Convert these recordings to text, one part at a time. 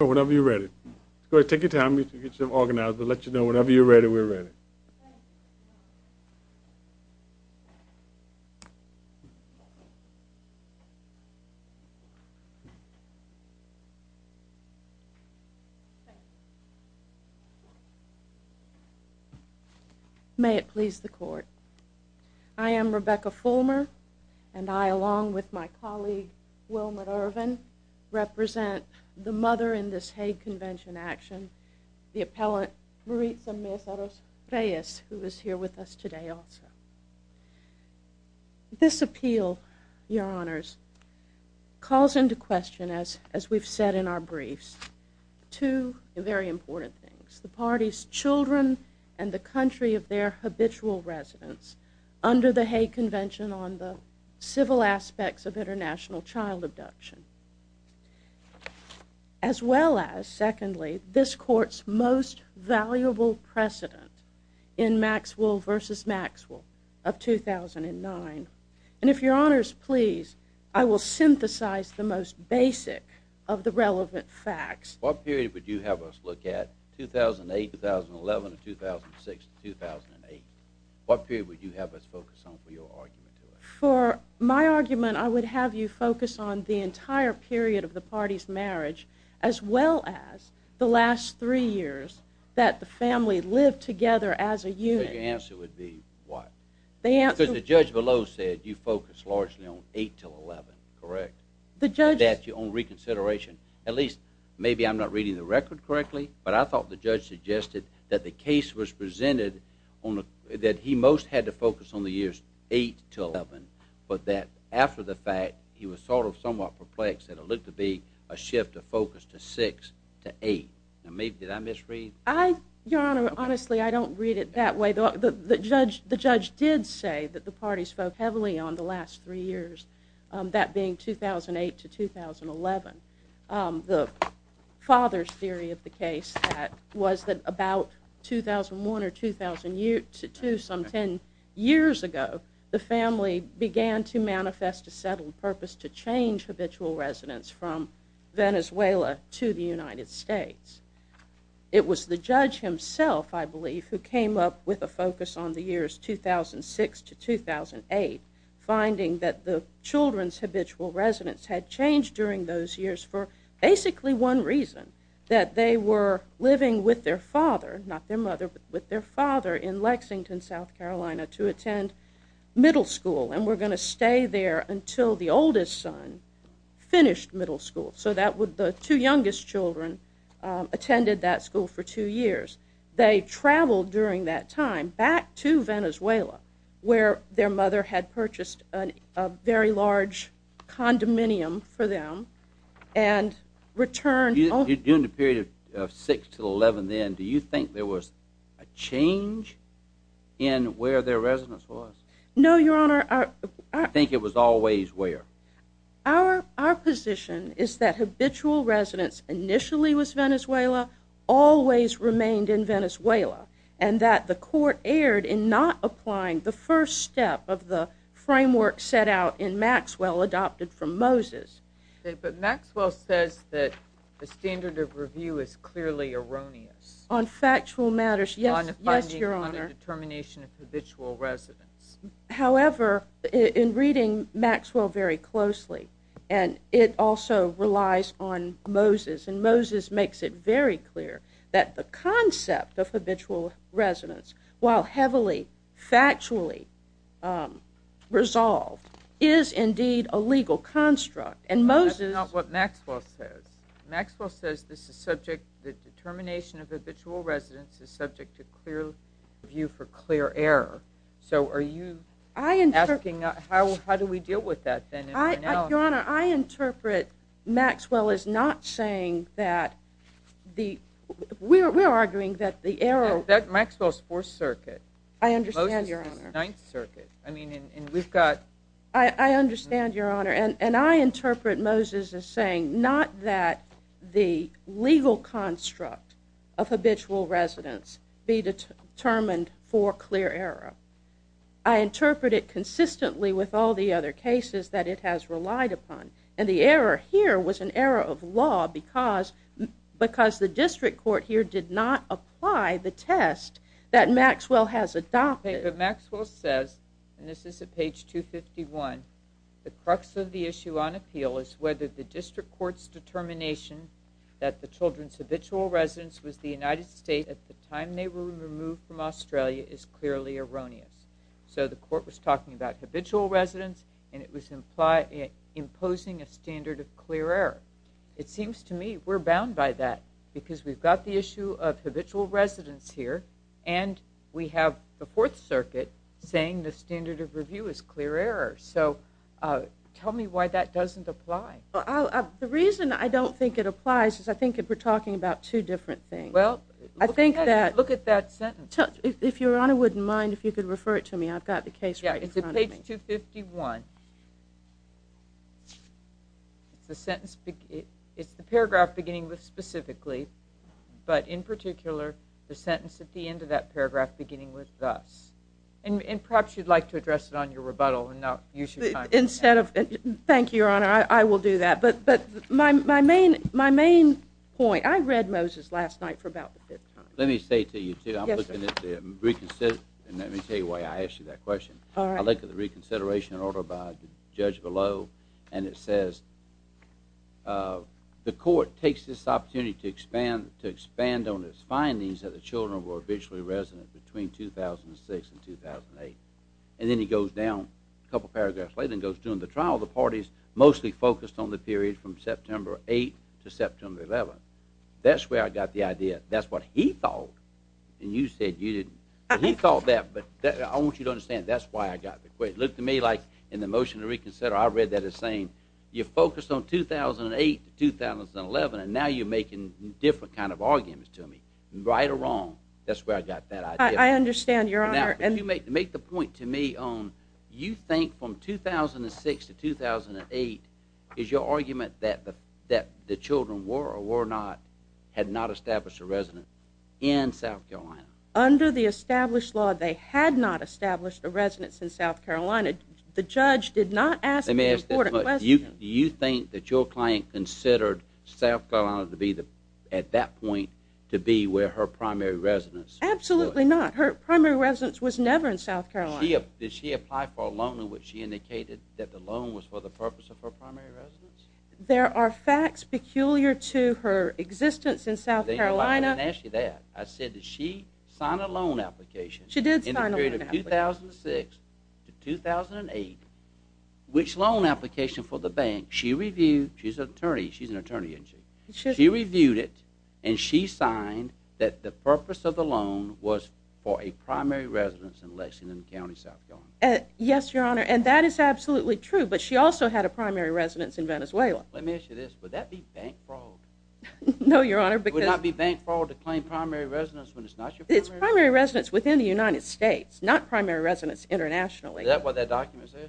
Whenever you're ready. Take your time to get yourself organized. We'll let you know whenever you're ready, we're ready. May it please the court. I am Rebecca Fulmer and I, along with my colleague Wilma Irvin, represent the mother in this Hague Convention action, the appellant Maritza Mezaros Reyes, who is here with us today also. This appeal, your honors, calls into question, as we've said in our briefs, two very important things. The party's children and the country of their habitual residence under the Hague Convention on the civil aspects of international child abduction. As well as, secondly, this court's most valuable precedent in Maxwell v. Maxwell of 2009. And if your honors please, I will synthesize the most basic of the relevant facts. What period would you have us look at? 2008, 2011, 2006, 2008? What period would you have us focus on for your argument? For my argument, I would have you focus on the entire period of the party's marriage, as well as the last three years that the family lived together as a unit. Your answer would be what? Because the judge below said you focused largely on 8 till 11, correct? The judge... That's your own reconsideration. At least, maybe I'm not reading the record correctly, but I thought the judge suggested that the case was presented that he most had to focus on the years 8 to 11, but that after the fact, he was sort of somewhat perplexed that it looked to be a shift of focus to 6 to 8. Now, did I misread? Your honor, honestly, I don't read it that way. The judge did say that the party spoke heavily on the last three years, that being 2008 to 2011. The father's theory of the case was that about 2001 or 2002, some 10 years ago, the family began to manifest a settled purpose to change habitual residence from Venezuela to the United States. It was the judge himself, I believe, who came up with a focus on the years 2006 to 2008, finding that the children's habitual residence had changed during those years for basically one reason, that they were living with their father, not their mother, but with their father in Lexington, South Carolina, to attend middle school, and were going to stay there until the oldest son finished middle school. So the two youngest children attended that school for two years. They traveled during that time back to Venezuela, where their mother had purchased a very large condominium for them, and returned... During the period of 6 to 11 then, do you think there was a change in where their residence was? No, your honor. I think it was always where. Our position is that habitual residence initially was Venezuela, always remained in Venezuela, and that the court erred in not applying the first step of the framework set out in Maxwell, adopted from Moses. But Maxwell says that the standard of review is clearly erroneous. On factual matters, yes, your honor. On the determination of habitual residence. However, in reading Maxwell very closely, and it also relies on Moses, and Moses makes it very clear that the concept of habitual residence, while heavily factually resolved, is indeed a legal construct. And Moses... That's not what Maxwell says. Maxwell says this is subject, the determination of habitual residence is subject to clear view for clear error. So are you asking how do we deal with that then? Your honor, I interpret Maxwell as not saying that the... We're arguing that the error... That Maxwell's Fourth Circuit. I understand, your honor. Moses' Ninth Circuit. I mean, and we've got... I understand, your honor. And I interpret Moses as saying not that the legal construct of habitual residence be determined for clear error. I interpret it consistently with all the other cases that it has relied upon. And the error here was an error of law because the district court here did not apply the test that Maxwell has adopted. Okay, but Maxwell says, and this is at page 251, the crux of the issue on appeal is whether the district court's determination that the children's habitual residence was the United States at the time they were removed from Australia is clearly erroneous. So the court was talking about habitual residence, and it was imposing a standard of clear error. It seems to me we're bound by that because we've got the issue of habitual residence here, and we have the Fourth Circuit saying the standard of review is clear error. So tell me why that doesn't apply. The reason I don't think it applies is I think we're talking about two different things. Well, look at that sentence. If your honor wouldn't mind, if you could refer it to me. I've got the case right in front of me. Yeah, it's at page 251. It's the paragraph beginning with specifically, but in particular the sentence at the end of that paragraph beginning with thus. And perhaps you'd like to address it on your rebuttal and not use your time. Thank you, your honor. I will do that. But my main point, I read Moses last night for about the fifth time. Let me say to you, too, I'm looking at the reconsideration. Let me tell you why I asked you that question. I look at the reconsideration in order by the judge below, and it says the court takes this opportunity to expand on its findings that the children were habitually resident between 2006 and 2008. And then he goes down a couple paragraphs later and goes, during the trial the parties mostly focused on the period from September 8 to September 11. That's where I got the idea. That's what he thought, and you said you didn't. He thought that, but I want you to understand that's why I got the question. It looked to me like in the motion to reconsider, I read that as saying you focused on 2008 to 2011, and now you're making different kind of arguments to me, right or wrong. That's where I got that idea. I understand, your honor. Now, if you make the point to me on you think from 2006 to 2008 is your argument that the children were or were not, had not established a residence in South Carolina. Under the established law, they had not established a residence in South Carolina. The judge did not ask the important question. Do you think that your client considered South Carolina at that point to be where her primary residence was? Absolutely not. Her primary residence was never in South Carolina. Did she apply for a loan in which she indicated that the loan was for the purpose of her primary residence? There are facts peculiar to her existence in South Carolina. I didn't ask you that. I said that she signed a loan application in the period of 2006 to 2008, which loan application for the bank she reviewed. She's an attorney, isn't she? She reviewed it, and she signed that the purpose of the loan was for a primary residence in Lexington County, South Carolina. Yes, your honor, and that is absolutely true, but she also had a primary residence in Venezuela. Let me ask you this. Would that be bank fraud? No, your honor, because Would it not be bank fraud to claim primary residence when it's not your primary residence? It's primary residence within the United States, not primary residence internationally. Is that what that document says?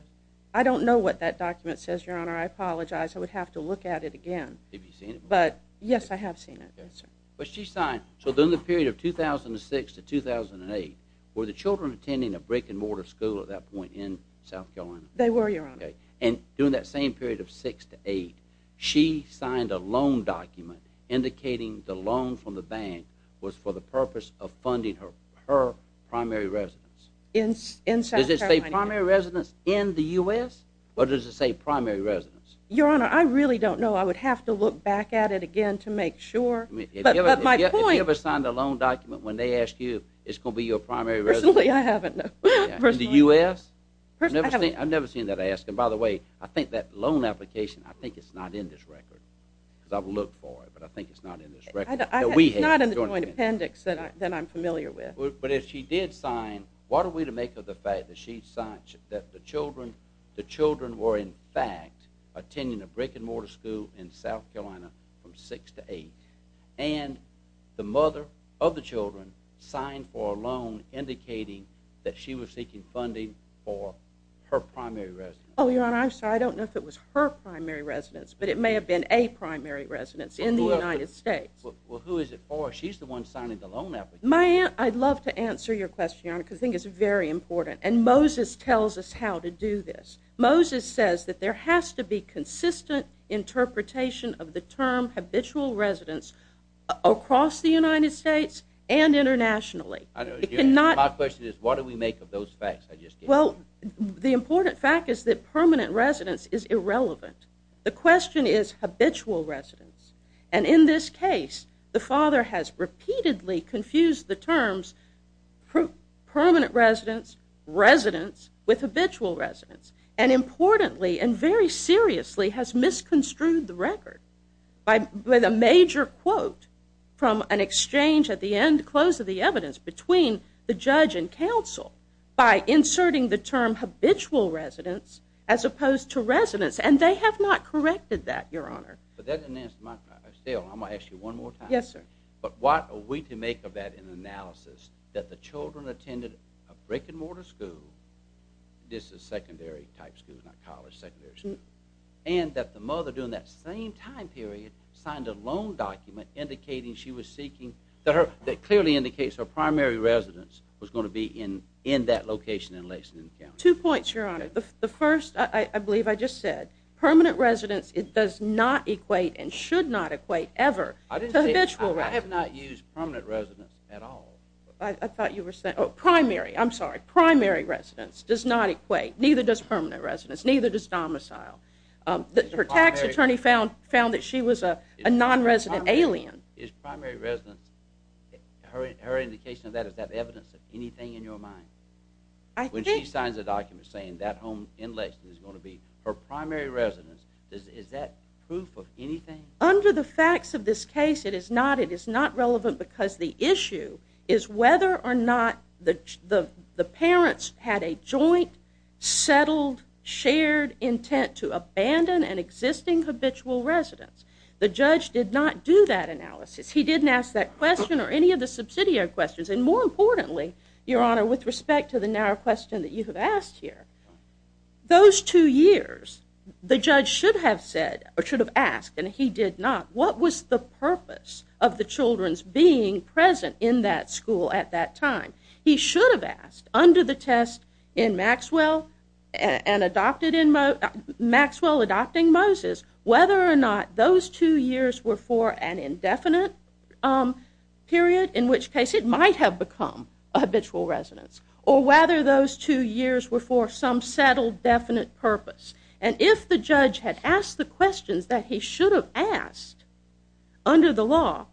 I don't know what that document says, your honor. I apologize. I would have to look at it again. Have you seen it before? Yes, I have seen it, yes, sir. But she signed, so during the period of 2006 to 2008, were the children attending a brick and mortar school at that point in South Carolina? They were, your honor. Okay, and during that same period of 2006 to 2008, she signed a loan document indicating the loan from the bank was for the purpose of funding her primary residence. Does it say primary residence in the U.S., or does it say primary residence? Your honor, I really don't know. I would have to look back at it again to make sure, but my point Have you ever signed a loan document when they ask you, it's going to be your primary residence? Personally, I haven't, no. In the U.S.? I've never seen that asked, and by the way, I think that loan application, I think it's not in this record, because I've looked for it, but I think it's not in this record. It's not in the joint appendix that I'm familiar with. But if she did sign, what are we to make of the fact that she signed, that the children were in fact attending a brick and mortar school in South Carolina from six to eight, and the mother of the children signed for a loan indicating that she was seeking funding for her primary residence? Oh, your honor, I'm sorry. I don't know if it was her primary residence, but it may have been a primary residence in the United States. Well, who is it for? She's the one signing the loan application. I'd love to answer your question, your honor, because I think it's very important, and Moses tells us how to do this. Moses says that there has to be consistent interpretation of the term habitual residence across the United States and internationally. My question is what do we make of those facts I just gave you? Well, the important fact is that permanent residence is irrelevant. The question is habitual residence, and in this case, the father has repeatedly confused the terms permanent residence, residence with habitual residence, and importantly and very seriously has misconstrued the record with a major quote from an exchange at the end close of the evidence between the judge and counsel by inserting the term habitual residence as opposed to residence, and they have not corrected that, your honor. But that doesn't answer my question. Still, I'm going to ask you one more time. Yes, sir. But what are we to make of that in analysis that the children attended a brick-and-mortar school, this is secondary type school, not college, secondary school, and that the mother during that same time period signed a loan document indicating she was seeking, that clearly indicates her primary residence was going to be in that location in Lexington County? Two points, your honor. The first, I believe I just said, permanent residence, it does not equate and should not equate ever to habitual residence. I have not used permanent residence at all. I thought you were saying, oh, primary, I'm sorry, primary residence does not equate, neither does permanent residence, neither does domicile. Her tax attorney found that she was a non-resident alien. Is primary residence, her indication of that, is that evidence of anything in your mind? I think. When she signs a document saying that home in Lexington is going to be her primary residence, is that proof of anything? Under the facts of this case, it is not. It is not relevant because the issue is whether or not the parents had a joint, settled, shared intent to abandon an existing habitual residence. The judge did not do that analysis. He didn't ask that question or any of the subsidiary questions, and more importantly, your honor, with respect to the narrow question that you have asked here, those two years, the judge should have said, or should have asked, and he did not, what was the purpose of the children's being present in that school at that time? He should have asked, under the test in Maxwell, and adopted in, Maxwell adopting Moses, whether or not those two years were for an indefinite period, in which case it might have become habitual residence, or whether those two years were for some settled, definite purpose. And if the judge had asked the questions that he should have asked under the law,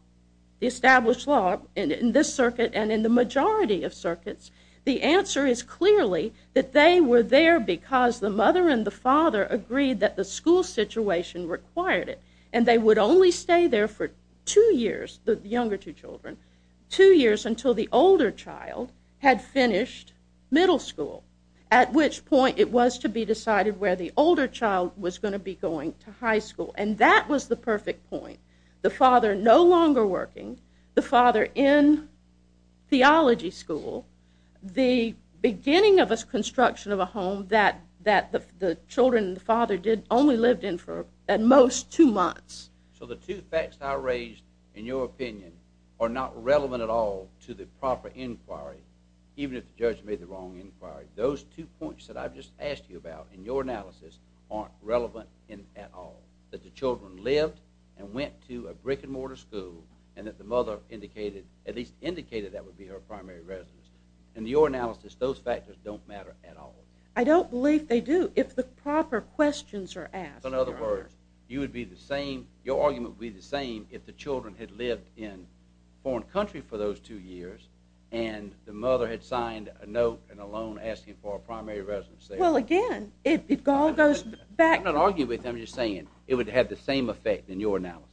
the established law in this circuit and in the majority of circuits, the answer is clearly that they were there because the mother and the father agreed that the school situation required it, and they would only stay there for two years, the younger two children, two years until the older child had finished middle school, at which point it was to be decided where the older child was going to be going to high school, and that was the perfect point. The father no longer working, the father in theology school, the beginning of a construction of a home that the children and the father only lived in for, at most, two months. So the two facts I raised in your opinion are not relevant at all to the proper inquiry, even if the judge made the wrong inquiry. Those two points that I've just asked you about in your analysis aren't relevant at all, that the children lived and went to a brick and mortar school, and that the mother indicated, at least indicated that would be her primary residence. In your analysis, those factors don't matter at all. I don't believe they do, if the proper questions are asked. In other words, you would be the same, your argument would be the same, if the children had lived in a foreign country for those two years, and the mother had signed a note and a loan asking for a primary residence there. Well, again, it all goes back... I'm not arguing with you, I'm just saying it would have the same effect in your analysis.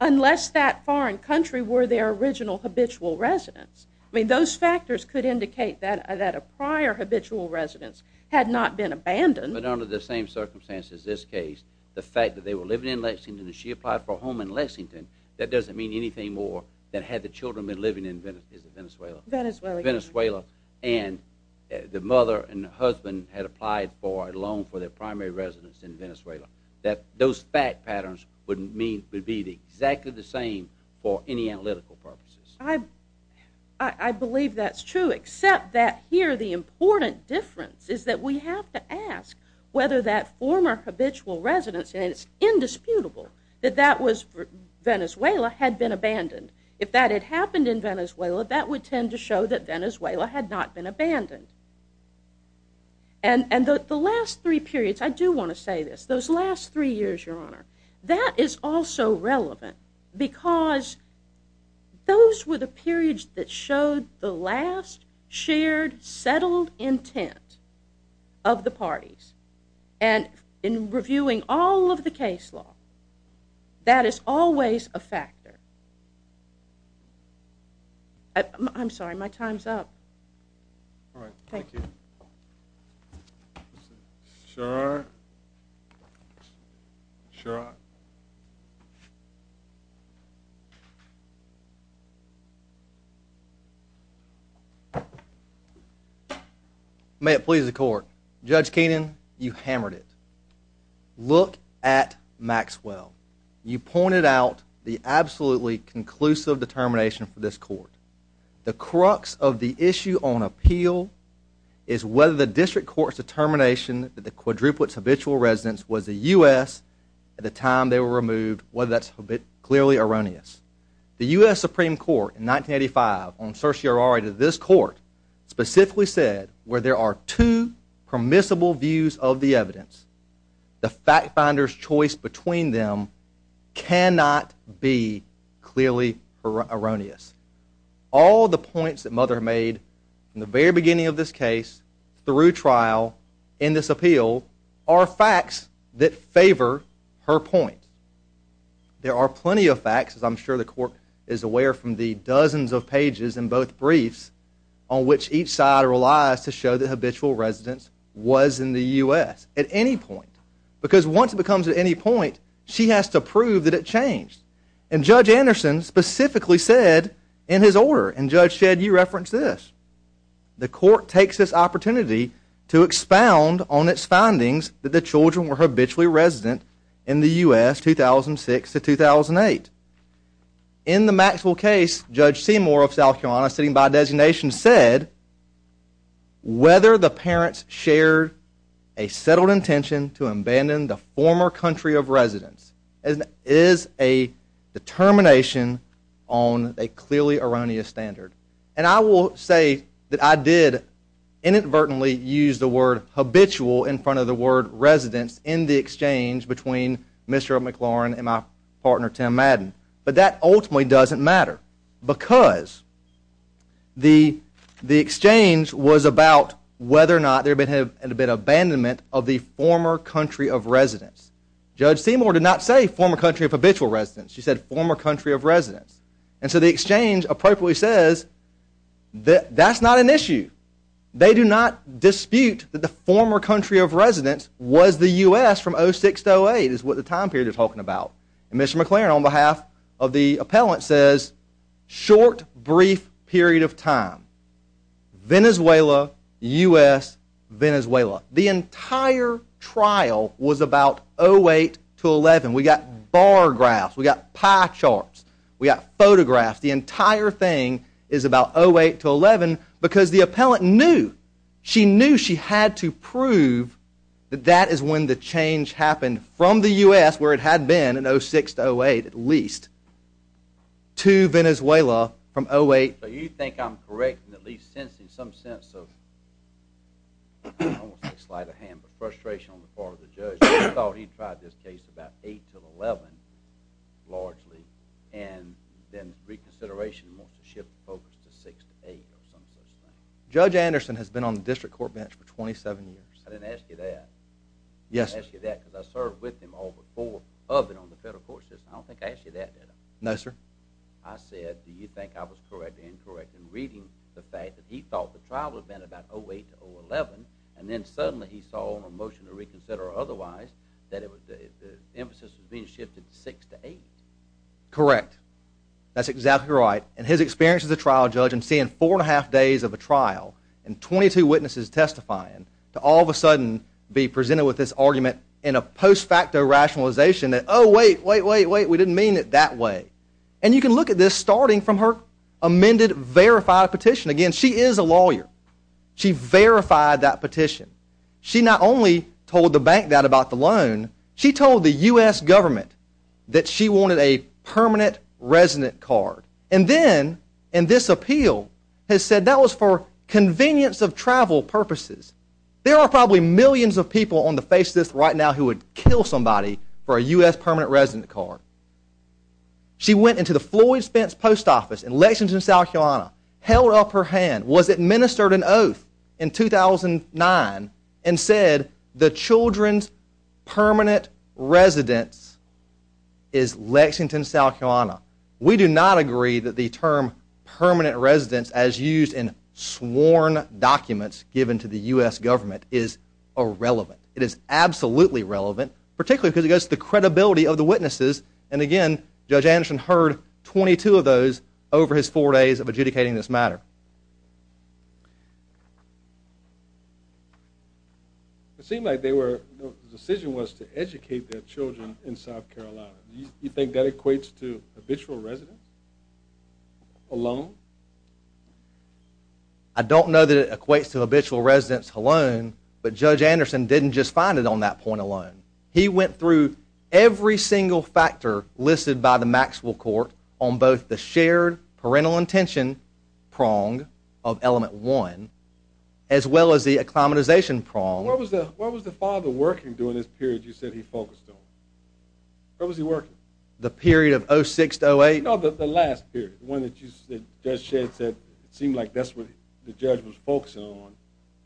Unless that foreign country were their original habitual residence. I mean, those factors could indicate that a prior habitual residence had not been abandoned. But under the same circumstances as this case, the fact that they were living in Lexington and she applied for a home in Lexington, that doesn't mean anything more than had the children been living in Venezuela. Venezuela. And the mother and the husband had applied for a loan for their primary residence in Venezuela. Those fact patterns would be exactly the same for any analytical purposes. I believe that's true, except that here the important difference is that we have to ask whether that former habitual residence, and it's indisputable that that was Venezuela, had been abandoned. If that had happened in Venezuela, that would tend to show that Venezuela had not been abandoned. And the last three periods, I do want to say this, those last three years, Your Honor, that is also relevant because those were the periods that showed the last shared settled intent of the parties. And in reviewing all of the case law, that is always a factor. I'm sorry, my time's up. All right, thank you. Sherrod? Sherrod? May it please the court. Judge Keenan, you hammered it. Look at Maxwell. You pointed out the absolutely conclusive determination for this court. The crux of the issue on appeal is whether the district court's determination that the quadruplets habitual residence was a U.S. at the time they were removed, whether that's clearly erroneous. The U.S. Supreme Court in 1985 on certiorari to this court specifically said where there are two permissible views of the evidence, the fact finder's choice between them cannot be clearly erroneous. All the points that Mother made in the very beginning of this case through trial in this appeal are facts that favor her point. There are plenty of facts, as I'm sure the court is aware from the dozens of pages in both briefs on which each side relies to show the habitual residence was in the U.S. at any point because once it becomes at any point, she has to prove that it changed. And Judge Anderson specifically said in his order, and Judge Shedd, you referenced this, the court takes this opportunity to expound on its findings that the children were habitually resident in the U.S. 2006 to 2008. In the Maxwell case, Judge Seymour of South Carolina sitting by designation said whether the parents shared a settled intention to abandon the former country of residence is a determination on a clearly erroneous standard. And I will say that I did inadvertently use the word habitual in front of the word residence in the exchange between Mr. McLaurin and my partner Tim Madden. But that ultimately doesn't matter because the exchange was about whether or not there had been an abandonment of the former country of residence. Judge Seymour did not say former country of habitual residence. She said former country of residence. And so the exchange appropriately says that's not an issue. They do not dispute that the former country of residence was the U.S. from 2006 to 2008 is what the time period they're talking about. And Mr. McLaurin on behalf of the appellant says short, brief period of time. Venezuela, U.S., Venezuela. The entire trial was about 08 to 11. We got bar graphs. We got pie charts. We got photographs. The entire thing is about 08 to 11 because the appellant knew. She knew she had to prove that that is when the change happened from the U.S. where it had been in 06 to 08 at least to Venezuela from 08. So you think I'm correct in at least sensing some sense of frustration on the part of the judge who thought he tried this case about 08 to 11 largely and then reconsideration wants to shift the focus to 06 to 08 or some such thing. Judge Anderson has been on the district court bench for 27 years. I didn't ask you that. Yes, sir. I didn't ask you that because I served with him all before of it on the federal court system. I don't think I asked you that, did I? No, sir. I said do you think I was correct or incorrect in reading the fact that he thought the trial had been about 08 to 011 and then suddenly he saw on a motion to reconsider or otherwise that the emphasis was being shifted to 06 to 08? Correct. That's exactly right. and 22 witnesses testifying to all of a sudden be presented with this argument in a post facto rationalization that oh, wait, wait, wait, wait, we didn't mean it that way. And you can look at this starting from her amended verified petition. Again, she is a lawyer. She verified that petition. She not only told the bank that about the loan, she told the U.S. government that she wanted a permanent resident card. And then in this appeal has said that was for convenience of travel purposes. There are probably millions of people on the face list right now who would kill somebody for a U.S. permanent resident card. She went into the Floyd Spence post office in Lexington, South Carolina, held up her hand, was administered an oath in 2009, and said the children's permanent residence is Lexington, South Carolina. We do not agree that the term permanent residence as used in sworn documents given to the U.S. government is irrelevant. It is absolutely relevant, particularly because it goes to the credibility of the witnesses. And again, Judge Anderson heard 22 of those over his four days of adjudicating this matter. It seemed like the decision was to educate their children in South Carolina. Do you think that equates to habitual residence alone? I don't know that it equates to habitual residence alone, but Judge Anderson didn't just find it on that point alone. He went through every single factor listed by the Maxwell Court on both the shared parental intention prong of element one as well as the acclimatization prong. What was the father working during this period you said he focused on? What was he working? The period of 06-08? No, the last period, the one that Judge Shedd said it seemed like that's what the judge was focusing on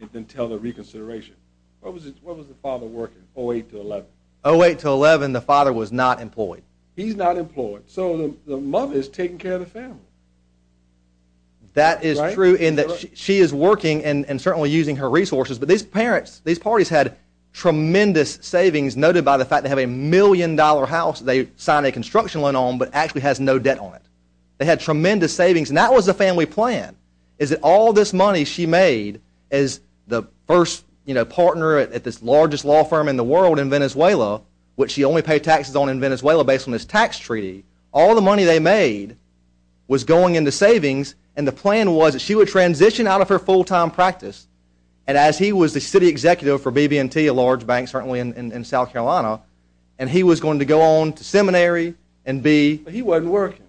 and then tell the reconsideration. What was the father working, 08-11? 08-11, the father was not employed. He's not employed. So the mother is taking care of the family. That is true in that she is working and certainly using her resources, but these parents, these parties had tremendous savings noted by the fact they have a million-dollar house they signed a construction loan on but actually has no debt on it. They had tremendous savings and that was the family plan is that all this money she made as the first partner at this largest law firm in the world in Venezuela which she only paid taxes on in Venezuela based on this tax treaty. All the money they made was going into savings and the plan was that she would transition out of her full-time practice and as he was the city executive for BB&T, a large bank certainly in South Carolina and he was going to go on to seminary and be... But he wasn't working.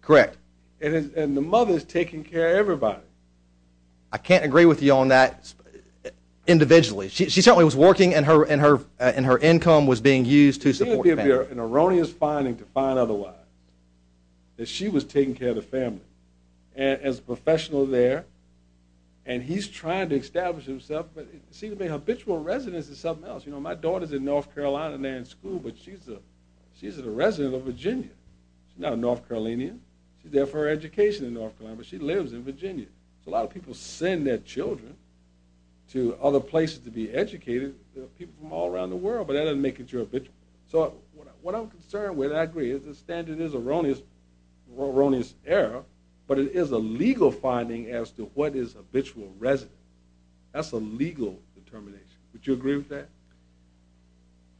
Correct. And the mother is taking care of everybody. I can't agree with you on that individually. She certainly was working and her income was being used to support the family. It would be an erroneous finding to find otherwise that she was taking care of the family as a professional there and he's trying to establish himself but it seemed to be an habitual residence in something else. You know, my daughter is in North Carolina and they're in school but she's a resident of Virginia. She's not a North Carolinian. She's there for her education in North Carolina but she lives in Virginia. So a lot of people send their children to other places to be educated. There are people from all around the world but that doesn't make it your habitual. So what I'm concerned with, and I agree, is the standard is erroneous error but it is a legal finding as to what is habitual residence. That's a legal determination. Would you agree with that?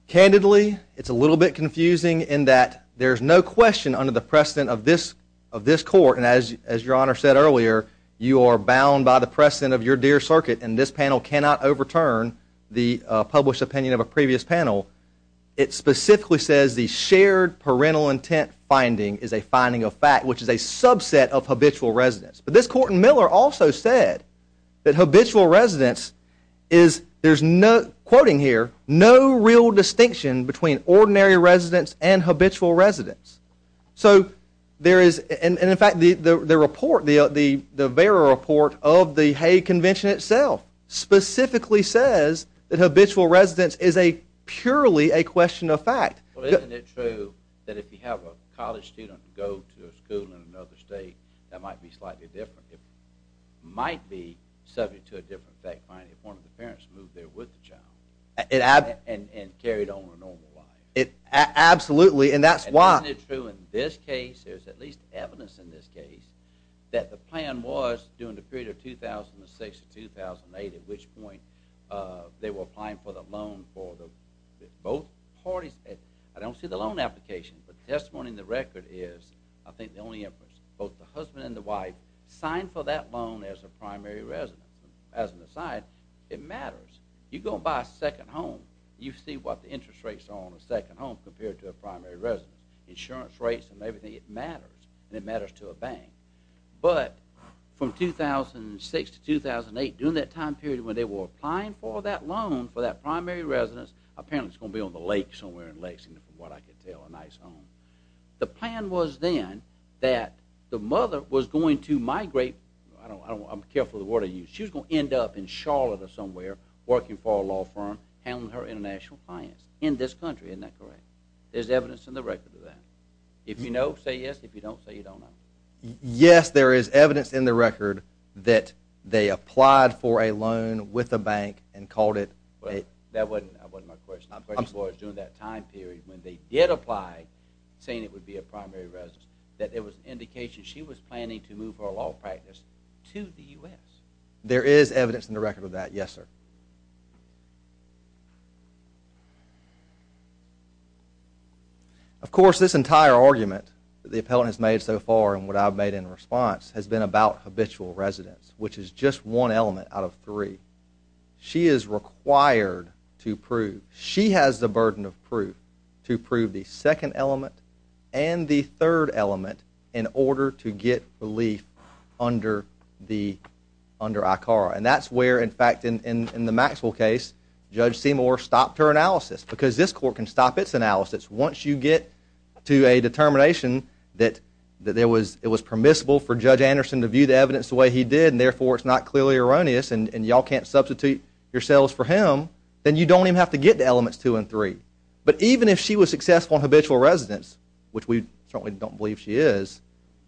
Candidly, it's a little bit confusing in that there's no question under the precedent of this court, and as Your Honor said earlier, you are bound by the precedent of your dear circuit and this panel cannot overturn the published opinion of a previous panel. It specifically says the shared parental intent finding is a finding of fact which is a subset of habitual residence. But this court in Miller also said that habitual residence is, there's no, quoting here, no real distinction between ordinary residence and habitual residence. So there is, and in fact the report, the Vera report of the Hague Convention itself specifically says that habitual residence is purely a question of fact. Well isn't it true that if you have a college student go to a school in another state that might be slightly different? It might be subject to a different fact finding if one of the parents moved there with the child and carried on a normal life. Absolutely, and that's why. And isn't it true in this case, there's at least evidence in this case, that the plan was during the period of 2006 to 2008 at which point they were applying for the loan for both parties. I don't see the loan application, but the testimony in the record is I think the only inference. Both the husband and the wife signed for that loan as a primary residence. As an aside, it matters. You go and buy a second home, you see what the interest rates are on a second home compared to a primary residence. Insurance rates and everything, it matters. And it matters to a bank. But from 2006 to 2008, during that time period when they were applying for that loan for that primary residence, apparently it's going to be on the lake somewhere in Lexington, from what I could tell, a nice home. The plan was then that the mother was going to migrate. I'm careful of the word I use. She was going to end up in Charlotte or somewhere working for a law firm handling her international clients in this country. Isn't that correct? There's evidence in the record of that. If you know, say yes. If you don't, say you don't know. Yes, there is evidence in the record that they applied for a loan with a bank and called it... That wasn't my question. My question was during that time period when they did apply saying it would be a primary residence, that it was an indication she was planning to move her law practice to the U.S. There is evidence in the record of that, yes, sir. Of course, this entire argument that the appellant has made so far and what I've made in response has been about habitual residence, which is just one element out of three. She is required to prove, she has the burden of proof to prove the second element and the third element in order to get relief under ICARA. And that's where, in fact, in the Maxwell case, Judge Seymour stopped her analysis because this court can stop its analysis once you get to a determination that it was permissible for Judge Anderson to view the evidence the way he did and therefore it's not clearly erroneous and y'all can't substitute yourselves for him, then you don't even have to get to elements two and three. But even if she was successful in habitual residence, which we certainly don't believe she is,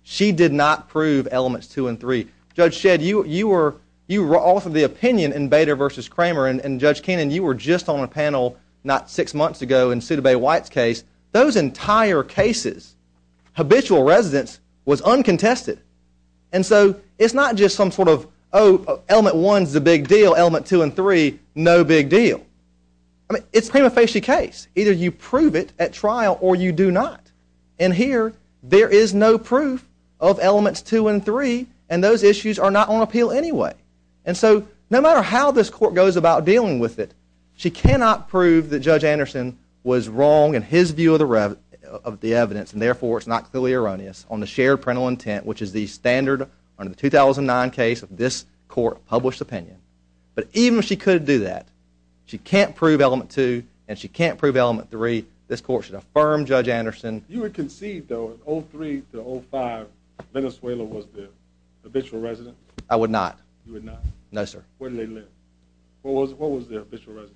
she did not prove elements two and three. Judge Shedd, you were off of the opinion in Bader v. Kramer and, Judge Kannon, you were just on the panel not six months ago in Sudebay White's case. Those entire cases, habitual residence was uncontested. And so it's not just some sort of, oh, element one's the big deal, element two and three, no big deal. I mean, it's a prima facie case. Either you prove it at trial or you do not. And here there is no proof of elements two and three and those issues are not on appeal anyway. And so no matter how this court goes about dealing with it, she cannot prove that Judge Anderson was wrong in his view of the evidence and therefore it's not clearly erroneous on the shared parental intent, which is the standard under the 2009 case of this court published opinion. But even if she could do that, she can't prove element two and she can't prove element three. This court should affirm Judge Anderson. You would concede, though, in 03 to 05, Venezuela was the habitual residence? I would not. You would not? No, sir. Where did they live? What was the habitual residence?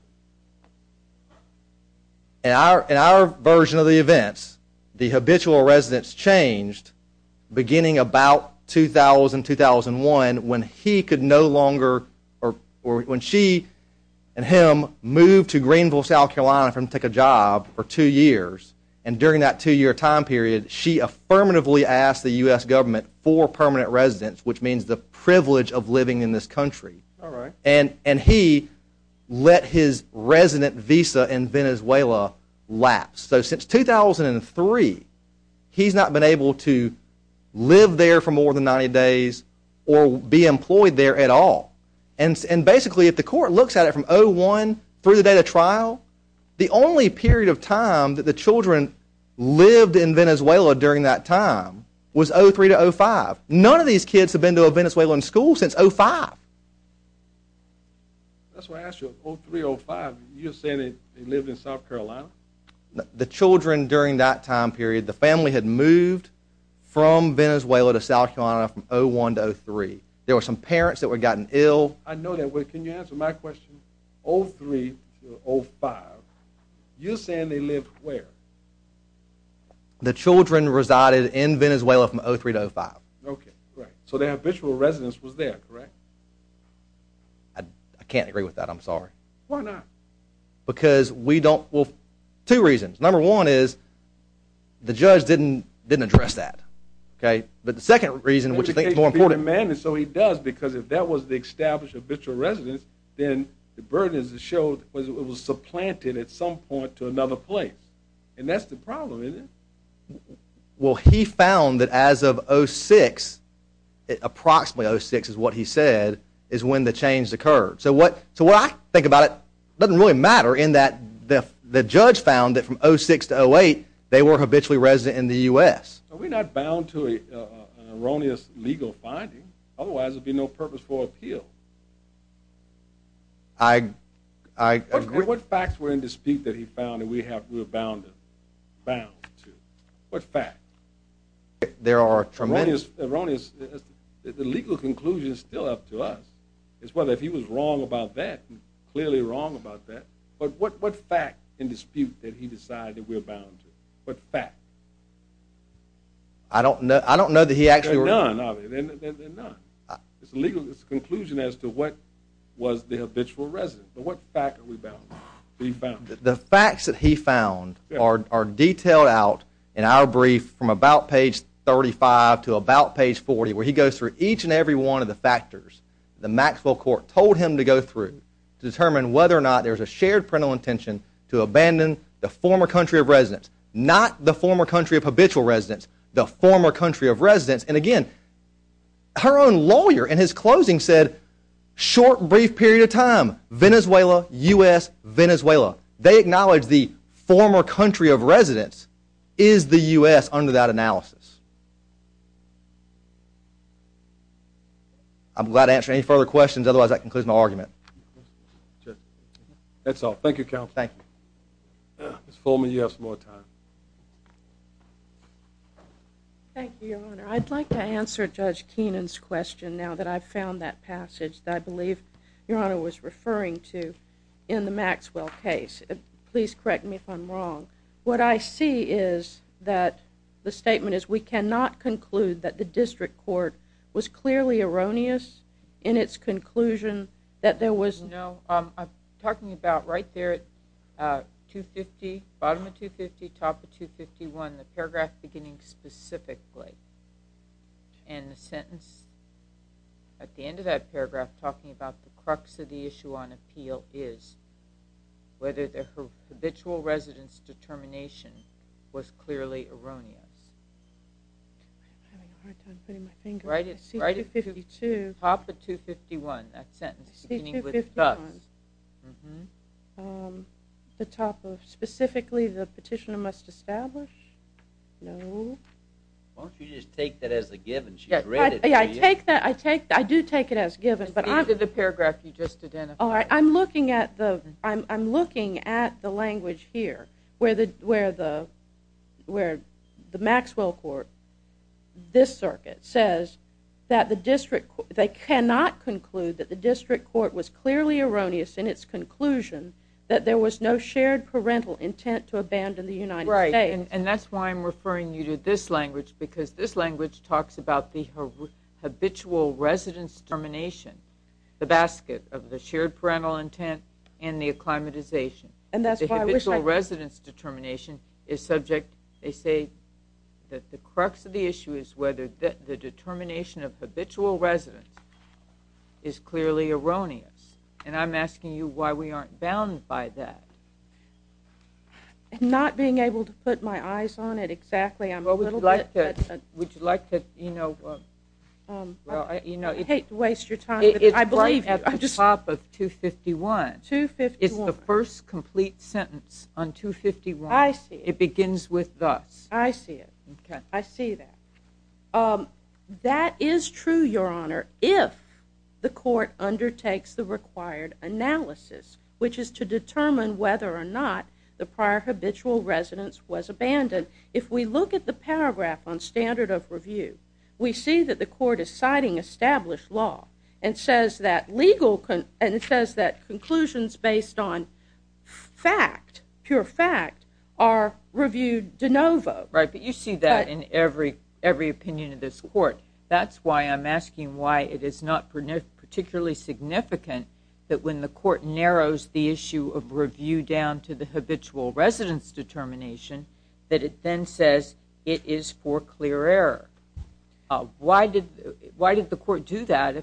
In our version of the events, the habitual residence changed beginning about 2000-2001 when he could no longer, or when she and him, moved to Greenville, South Carolina from to take a job for two years. And during that two-year time period, she affirmatively asked the U.S. government for permanent residence, which means the privilege of living in this country. All right. And he let his resident visa in Venezuela lapse. So since 2003, he's not been able to live there for more than 90 days or be employed there at all. The only period of time that the children lived in Venezuela during that time was 03 to 05. None of these kids have been to a Venezuelan school since 05. That's what I asked you. 03-05, you're saying they lived in South Carolina? The children during that time period, the family had moved from Venezuela to South Carolina from 01 to 03. There were some parents that had gotten ill. I know that. Can you answer my question? 03 to 05, you're saying they lived where? The children resided in Venezuela from 03 to 05. Okay. So their habitual residence was there, correct? I can't agree with that. I'm sorry. Why not? Because we don't. Well, two reasons. Number one is the judge didn't address that. Okay. But the second reason, which I think is more important. So he does because if that was the established habitual residence, then the burdens that showed it was supplanted at some point to another place. And that's the problem, isn't it? Well, he found that as of 06, approximately 06 is what he said, is when the change occurred. So what I think about it doesn't really matter in that the judge found that from 06 to 08, they were habitually resident in the U.S. We're not bound to an erroneous legal finding. Otherwise, there would be no purpose for appeal. I agree. What facts were in dispute that he found that we were bound to? What fact? There are tremendous. Erroneous. The legal conclusion is still up to us. It's whether he was wrong about that, clearly wrong about that. But what fact in dispute did he decide that we're bound to? What fact? I don't know that he actually. None, obviously, none. It's a legal conclusion as to what was the habitual residence. But what fact are we bound to? The facts that he found are detailed out in our brief from about page 35 to about page 40, where he goes through each and every one of the factors the Maxwell Court told him to go through to determine whether or not there's a shared parental intention to abandon the former country of residence, not the former country of habitual residence, the former country of residence. And again, her own lawyer in his closing said, short, brief period of time, Venezuela, U.S., Venezuela. They acknowledge the former country of residence is the U.S. under that analysis. I'm glad to answer any further questions. Otherwise, that concludes my argument. That's all. Thank you, counsel. Thank you. Ms. Fullman, you have some more time. Thank you, Your Honor. I'd like to answer Judge Keenan's question now that I've found that passage that I believe, Your Honor, was referring to in the Maxwell case. Please correct me if I'm wrong. What I see is that the statement is, we cannot conclude that the district court was clearly erroneous in its conclusion that there was no- the paragraph beginning specifically. And the sentence at the end of that paragraph talking about the crux of the issue on appeal is whether the habitual residence determination was clearly erroneous. I'm having a hard time putting my finger on it. C252. Right at the top of 251, that sentence beginning with thus. C251. Mm-hmm. The top of specifically the petitioner must establish? No. Why don't you just take that as a given? She's read it to you. Yeah, I take that. I do take it as given, but I'm- At the end of the paragraph, you just identified it. All right. I'm looking at the language here where the Maxwell court, this circuit, they cannot conclude that the district court was clearly erroneous in its conclusion that there was no shared parental intent to abandon the United States. Right, and that's why I'm referring you to this language because this language talks about the habitual residence determination, the basket of the shared parental intent and the acclimatization. And that's why I wish I- The habitual residence determination is subject, they say that the crux of the issue is whether the determination of habitual residence is clearly erroneous, and I'm asking you why we aren't bound by that. Not being able to put my eyes on it exactly, I'm a little bit- Would you like to, you know- I hate to waste your time, but I believe you. It's right at the top of 251. 251. It's the first complete sentence on 251. I see. It begins with thus. I see it. Okay. I see that. That is true, Your Honor, if the court undertakes the required analysis, which is to determine whether or not the prior habitual residence was abandoned. If we look at the paragraph on standard of review, we see that the court is citing established law and says that conclusions based on fact, pure fact, are reviewed de novo. Right, but you see that in every opinion of this court. That's why I'm asking why it is not particularly significant that when the court narrows the issue of review down to the habitual residence determination that it then says it is for clear error. Why did the court do that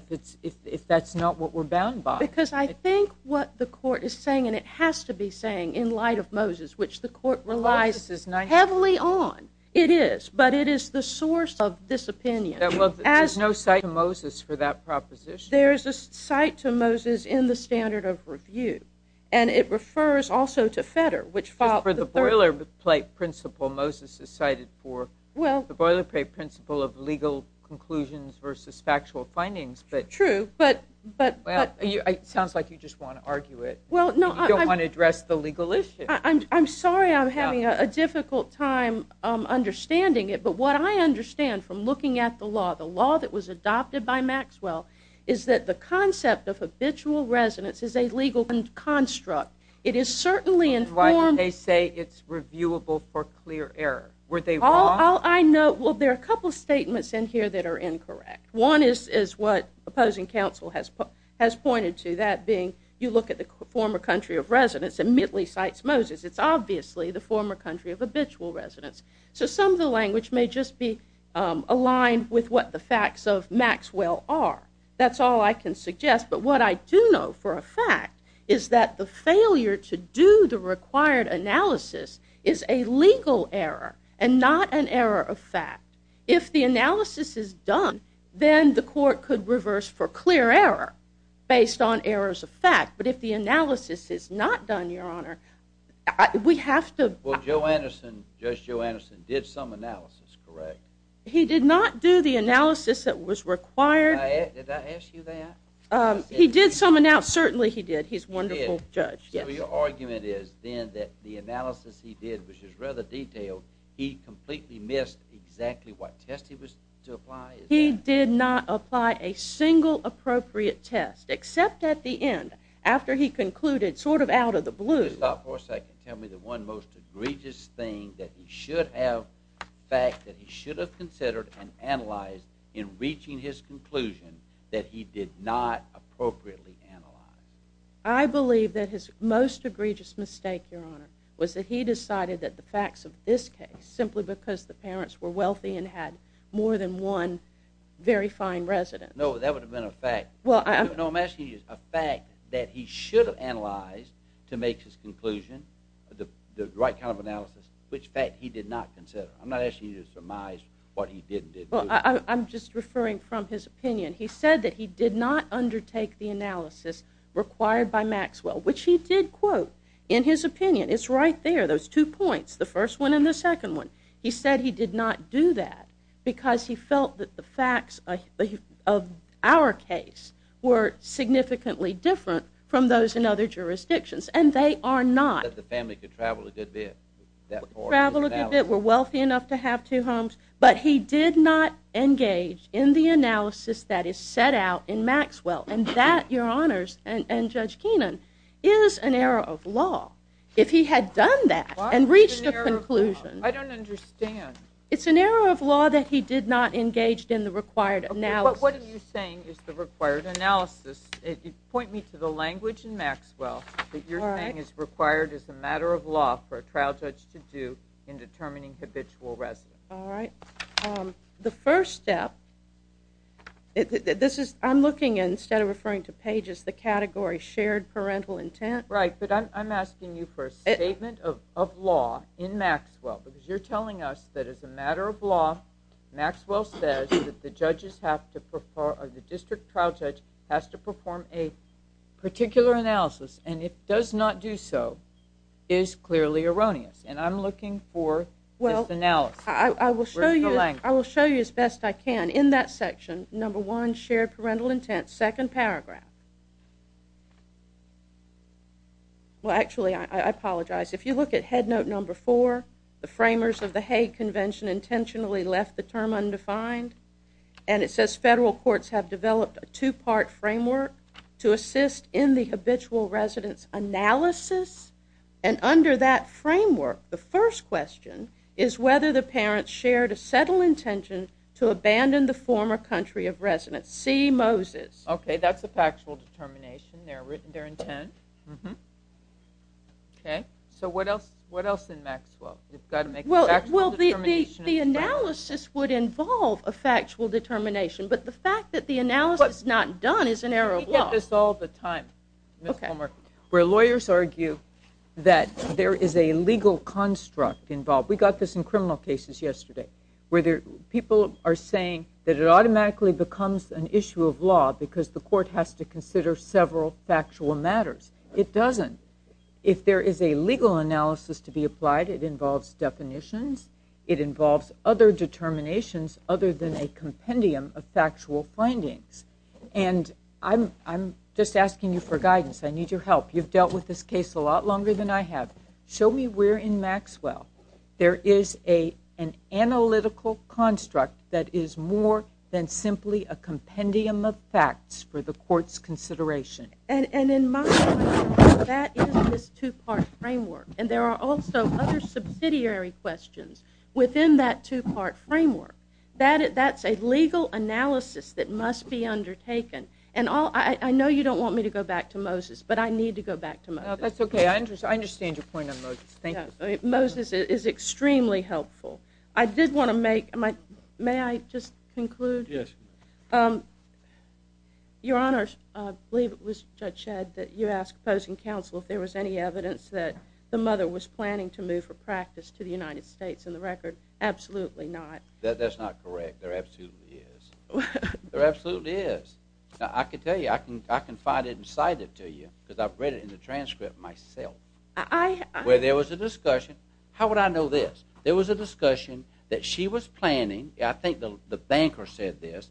if that's not what we're bound by? Because I think what the court is saying, and it has to be saying in light of Moses, which the court relies heavily on. It is, but it is the source of this opinion. There's no cite to Moses for that proposition. There's a cite to Moses in the standard of review, and it refers also to Fetter, which filed- The boilerplate principle Moses has cited for, the boilerplate principle of legal conclusions versus factual findings. True, but- It sounds like you just want to argue it. You don't want to address the legal issue. I'm sorry I'm having a difficult time understanding it, but what I understand from looking at the law, the law that was adopted by Maxwell, is that the concept of habitual residence is a legal construct. It is certainly informed- Why did they say it's reviewable for clear error? Were they wrong? All I know, well, there are a couple of statements in here that are incorrect. One is what opposing counsel has pointed to, that being, you look at the former country of residence, and Mitley cites Moses. It's obviously the former country of habitual residence. So some of the language may just be aligned with what the facts of Maxwell are. That's all I can suggest. But what I do know for a fact is that the failure to do the required analysis is a legal error and not an error of fact. If the analysis is done, then the court could reverse for clear error, based on errors of fact. But if the analysis is not done, Your Honor, we have to- Well, Joe Anderson, Judge Joe Anderson, did some analysis, correct? He did not do the analysis that was required- Did I ask you that? He did sum it out. Certainly he did. He's a wonderful judge. So your argument is then that the analysis he did, which is rather detailed, he completely missed exactly what test he was to apply? He did not apply a single appropriate test, except at the end, after he concluded, sort of out of the blue- Just stop for a second. Tell me the one most egregious thing that he should have fact, that he did not appropriately analyze? I believe that his most egregious mistake, Your Honor, was that he decided that the facts of this case, simply because the parents were wealthy and had more than one very fine resident- No, that would have been a fact. No, I'm asking you a fact that he should have analyzed to make his conclusion, the right kind of analysis, which fact he did not consider. I'm not asking you to surmise what he did and didn't do. I'm just referring from his opinion. He said that he did not undertake the analysis required by Maxwell, which he did quote in his opinion. It's right there, those two points, the first one and the second one. He said he did not do that because he felt that the facts of our case were significantly different from those in other jurisdictions, and they are not- That the family could travel a good bit. Travel a good bit, were wealthy enough to have two homes, but he did not engage in the analysis that is set out in Maxwell, and that, Your Honors, and Judge Keenan, is an error of law. If he had done that and reached a conclusion- I don't understand. It's an error of law that he did not engage in the required analysis. But what are you saying is the required analysis? Point me to the language in Maxwell that you're saying is required as a matter of law for a trial judge to do in determining habitual residents. All right. The first step, I'm looking, instead of referring to pages, the category shared parental intent. Right, but I'm asking you for a statement of law in Maxwell because you're telling us that as a matter of law, Maxwell says that the district trial judge has to perform a particular analysis, and if does not do so, is clearly erroneous. And I'm looking for this analysis. Well, I will show you as best I can. In that section, number one, shared parental intent, second paragraph. Well, actually, I apologize. If you look at head note number four, the framers of the Hague Convention intentionally left the term undefined, and it says federal courts have developed a two-part framework to assist in the habitual residents analysis, and under that framework, the first question is whether the parents shared a settled intention to abandon the former country of residence. See Moses. Okay, that's a factual determination, their intent. Okay, so what else in Maxwell? Well, the analysis would involve a factual determination, but the fact that the analysis is not done is an error of law. I get this all the time, Ms. Palmer, where lawyers argue that there is a legal construct involved. We got this in criminal cases yesterday, where people are saying that it automatically becomes an issue of law because the court has to consider several factual matters. It doesn't. If there is a legal analysis to be applied, it involves definitions. It involves other determinations other than a compendium of factual findings. And I'm just asking you for guidance. I need your help. You've dealt with this case a lot longer than I have. Show me where in Maxwell there is an analytical construct that is more than simply a compendium of facts for the court's consideration. And in my mind, that is this two-part framework, and there are also other subsidiary questions within that two-part framework. That's a legal analysis that must be undertaken. I know you don't want me to go back to Moses, but I need to go back to Moses. That's okay. I understand your point on Moses. Moses is extremely helpful. May I just conclude? Yes. Your Honor, I believe it was Judge Shedd that you asked opposing counsel if there was any evidence that the mother was planning to move her practice to the United States. And the record, absolutely not. That's not correct. There absolutely is. There absolutely is. I can tell you. I can find it and cite it to you because I've read it in the transcript myself. Where there was a discussion. How would I know this? There was a discussion that she was planning. I think the banker said this,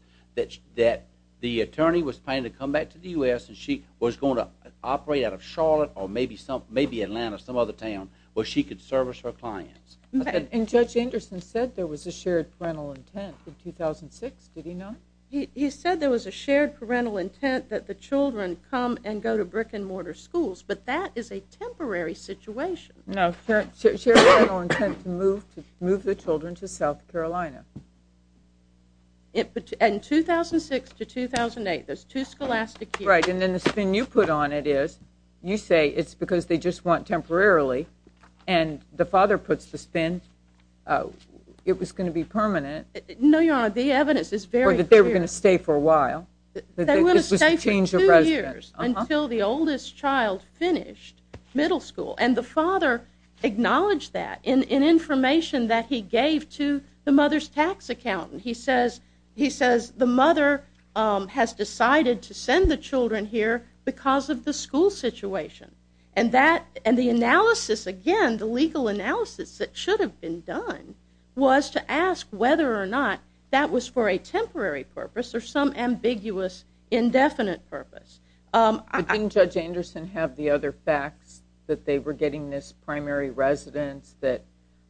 that the attorney was planning to come back to the U.S. and she was going to operate out of Charlotte or maybe Atlanta, some other town, where she could service her clients. Okay. And Judge Anderson said there was a shared parental intent in 2006. Did he not? He said there was a shared parental intent that the children come and go to brick and mortar schools, but that is a temporary situation. No, shared parental intent to move the children to South Carolina. In 2006 to 2008, there's two scholastic years. Right, and then the spin you put on it is you say it's because they just want to stay temporarily and the father puts the spin. It was going to be permanent. No, Your Honor, the evidence is very clear. Or that they were going to stay for a while. They were going to stay for two years until the oldest child finished middle school. And the father acknowledged that in information that he gave to the mother's tax accountant. He says the mother has decided to send the children here because of the school situation. And the analysis, again, the legal analysis that should have been done was to ask whether or not that was for a temporary purpose or some ambiguous indefinite purpose. But didn't Judge Anderson have the other facts that they were getting this primary residence that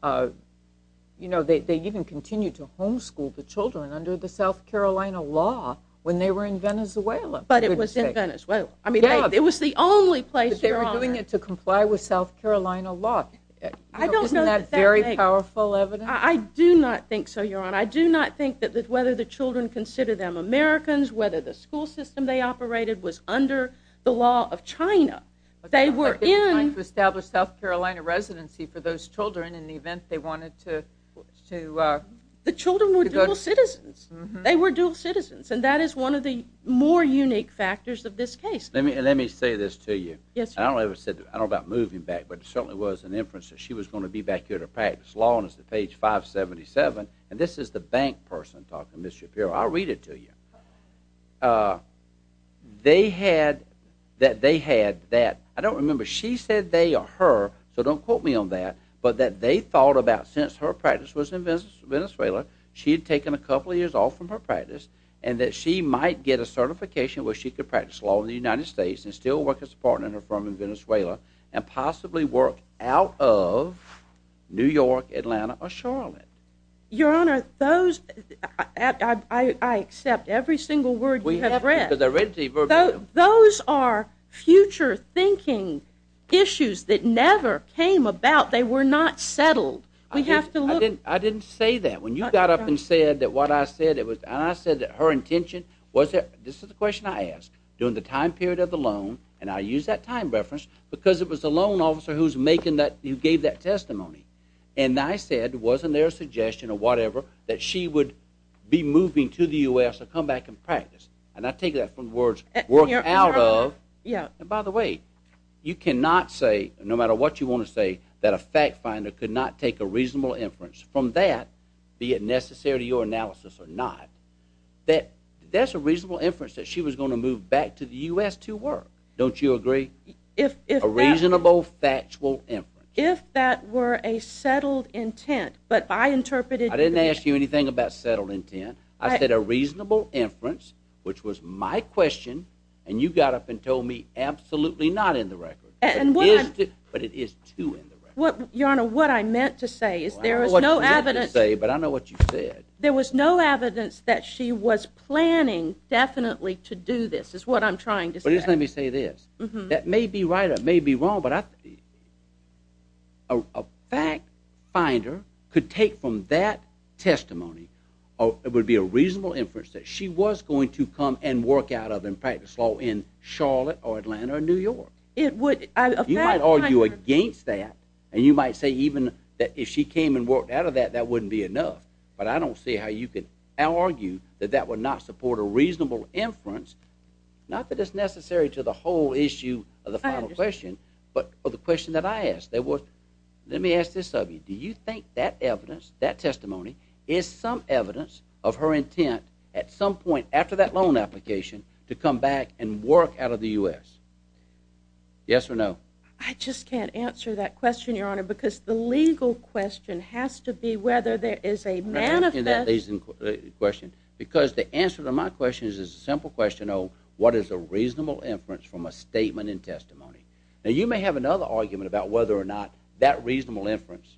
they even continued to homeschool the children under the South Carolina law when they were in Venezuela? But it was in Venezuela. I mean, it was the only place, Your Honor. But they were doing it to comply with South Carolina law. Isn't that very powerful evidence? I do not think so, Your Honor. I do not think that whether the children consider them Americans, whether the school system they operated was under the law of China. They were in. But they were trying to establish South Carolina residency for those children in the event they wanted to. The children were dual citizens. They were dual citizens. And that is one of the more unique factors of this case. Let me say this to you. Yes, Your Honor. I don't know about moving back, but it certainly was an inference that she was going to be back here to practice law until page 577. And this is the bank person talking, Ms. Shapiro. I'll read it to you. They had that. I don't remember. She said they or her, so don't quote me on that, but that they thought about since her practice was in Venezuela, she had taken a couple of years off from her practice and that she might get a certification where she could practice law in the United States and still work as a partner in her firm in Venezuela and possibly work out of New York, Atlanta, or Charlotte. Your Honor, I accept every single word you have read. Those are future thinking issues that never came about. They were not settled. I didn't say that. When you got up and said that what I said, and I said that her intention was that this is the question I asked during the time period of the loan, and I used that time reference because it was the loan officer who gave that testimony. And I said, wasn't there a suggestion or whatever that she would be moving to the U.S. or come back and practice? And I take that from the words work out of. And by the way, you cannot say, no matter what you want to say, that a fact finder could not take a reasonable inference from that be it necessary to your analysis or not. That's a reasonable inference that she was going to move back to the U.S. to work. Don't you agree? A reasonable factual inference. If that were a settled intent, but I interpreted it. I didn't ask you anything about settled intent. I said a reasonable inference, which was my question, and you got up and told me absolutely not in the record. But it is too in the record. Your Honor, what I meant to say is there is no evidence. I don't know what you meant to say, but I know what you said. There was no evidence that she was planning definitely to do this is what I'm trying to say. But just let me say this. That may be right or it may be wrong, but a fact finder could take from that testimony or it would be a reasonable inference that she was going to come and work out of and practice law in Charlotte or Atlanta or New York. You might argue against that, and you might say even that if she came and worked out of that, that wouldn't be enough. But I don't see how you could argue that that would not support a reasonable inference, not that it's necessary to the whole issue of the final question, but of the question that I asked. Let me ask this of you. Do you think that evidence, that testimony, is some evidence of her intent at some point after that loan application to come back and work out of the U.S.? Yes or no? I just can't answer that question, Your Honor, because the legal question has to be whether there is a manifest... I'm not asking that question because the answer to my question is a simple question of what is a reasonable inference from a statement in testimony? Now, you may have another argument about whether or not that reasonable inference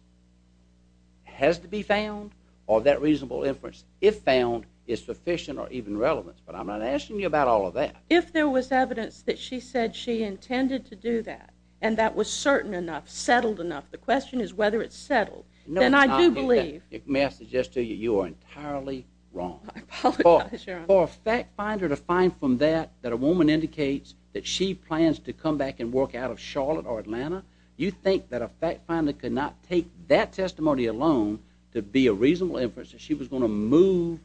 has to be found or that reasonable inference, if found, is sufficient or even relevant, but I'm not asking you about all of that. If there was evidence that she said she intended to do that and that was certain enough, settled enough, the question is whether it's settled. Then I do believe... May I suggest to you, you are entirely wrong. I apologize, Your Honor. For a fact finder to find from that that a woman indicates that she plans to come back and work out of Charlotte or Atlanta, you think that a fact finder could not take that testimony alone to be a reasonable inference that she was going to move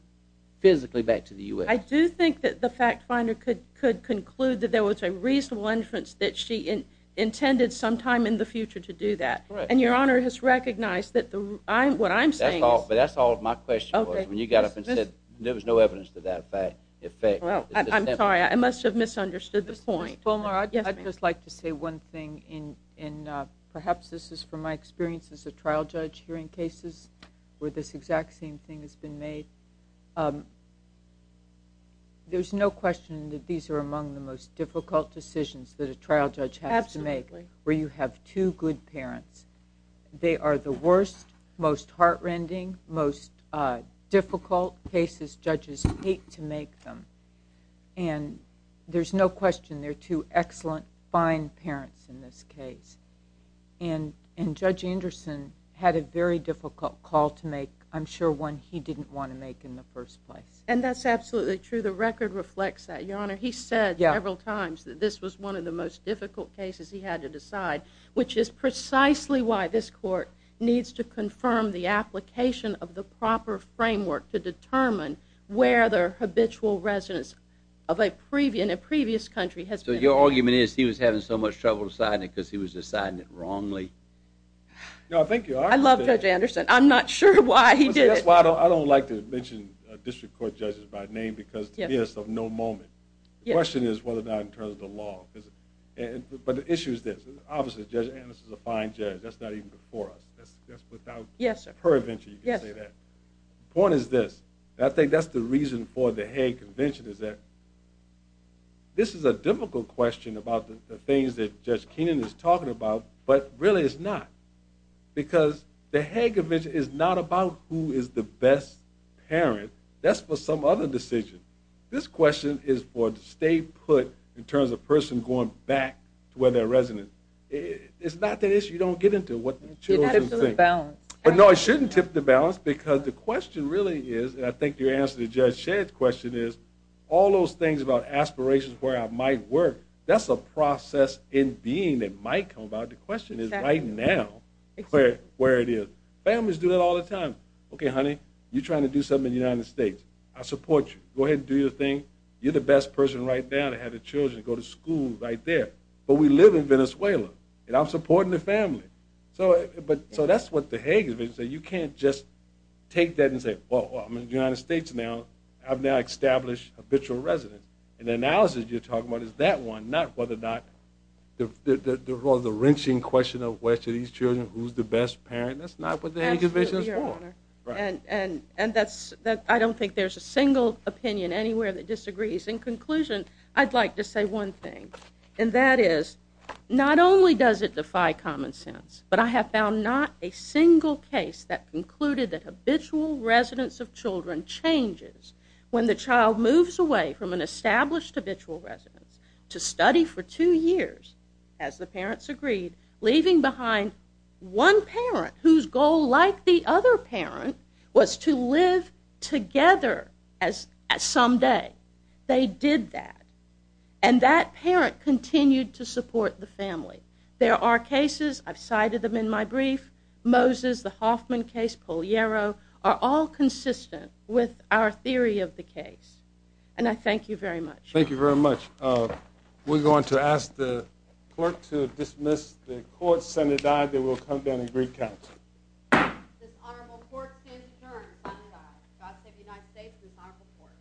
physically back to the U.S.? I do think that the fact finder could conclude that there was a reasonable inference that she intended sometime in the future to do that. And Your Honor has recognized that what I'm saying... But that's all my question was. When you got up and said there was no evidence to that effect... I'm sorry. I must have misunderstood the point. Ms. Fulmer, I'd just like to say one thing. Perhaps this is from my experience as a trial judge hearing cases where this exact same thing has been made. There's no question that these are among the most difficult decisions that a trial judge has to make where you have two good parents. They are the worst, most heart-rending, most difficult cases judges hate to make them. And there's no question they're two excellent, fine parents in this case. And Judge Anderson had a very difficult call to make, I'm sure one he didn't want to make in the first place. And that's absolutely true. The record reflects that, Your Honor. He said several times that this was one of the most difficult cases he had to decide, which is precisely why this court needs to confirm the application of the proper framework to determine where the habitual residence in a previous country has been. So your argument is he was having so much trouble deciding it because he was deciding it wrongly? No, thank you. I love Judge Anderson. I'm not sure why he did it. That's why I don't like to mention district court judges by name because to me it's of no moment. The question is whether or not in terms of the law. But the issue is this. Obviously Judge Anderson is a fine judge. That's not even before us. That's without pervention you can say that. The point is this. I think that's the reason for the Hague Convention is that this is a difficult question about the things that Judge Keenan is talking about, but really it's not because the Hague Convention is not about who is the best parent. That's for some other decision. This question is for the state put in terms of a person going back to where they're resident. It's not that issue. You don't get into what the children think. It should tip the balance. No, it shouldn't tip the balance because the question really is, and I think your answer to Judge Shedd's question is all those things about aspirations where I might work, that's a process in being that might come about. The question is right now where it is. Families do that all the time. Okay, honey, you're trying to do something in the United States. I support you. Go ahead and do your thing. You're the best person right now to have the children go to school right there. But we live in Venezuela, and I'm supporting the family. So that's what the Hague Convention says. You can't just take that and say, well, I'm in the United States now. I've now established a habitual resident. And the analysis you're talking about is that one, not whether or not the wrenching question of which of these children who's the best parent, that's not what the Hague Convention is for. And I don't think there's a single opinion anywhere that disagrees. In conclusion, I'd like to say one thing, and that is not only does it defy common sense, but I have found not a single case that concluded that habitual residence of children changes when the child moves away from an established habitual residence to study for two years, as the parents agreed, leaving behind one parent whose goal, like the other parent, was to live together someday. They did that. And that parent continued to support the family. There are cases. I've cited them in my brief. Moses, the Hoffman case, Poliero, are all consistent with our theory of the case. And I thank you very much. Thank you very much. We're going to ask the clerk to dismiss the court. Senator Dyer, then we'll come down and recount. This honorable court stands adjourned on the die. God save the United States and this honorable court.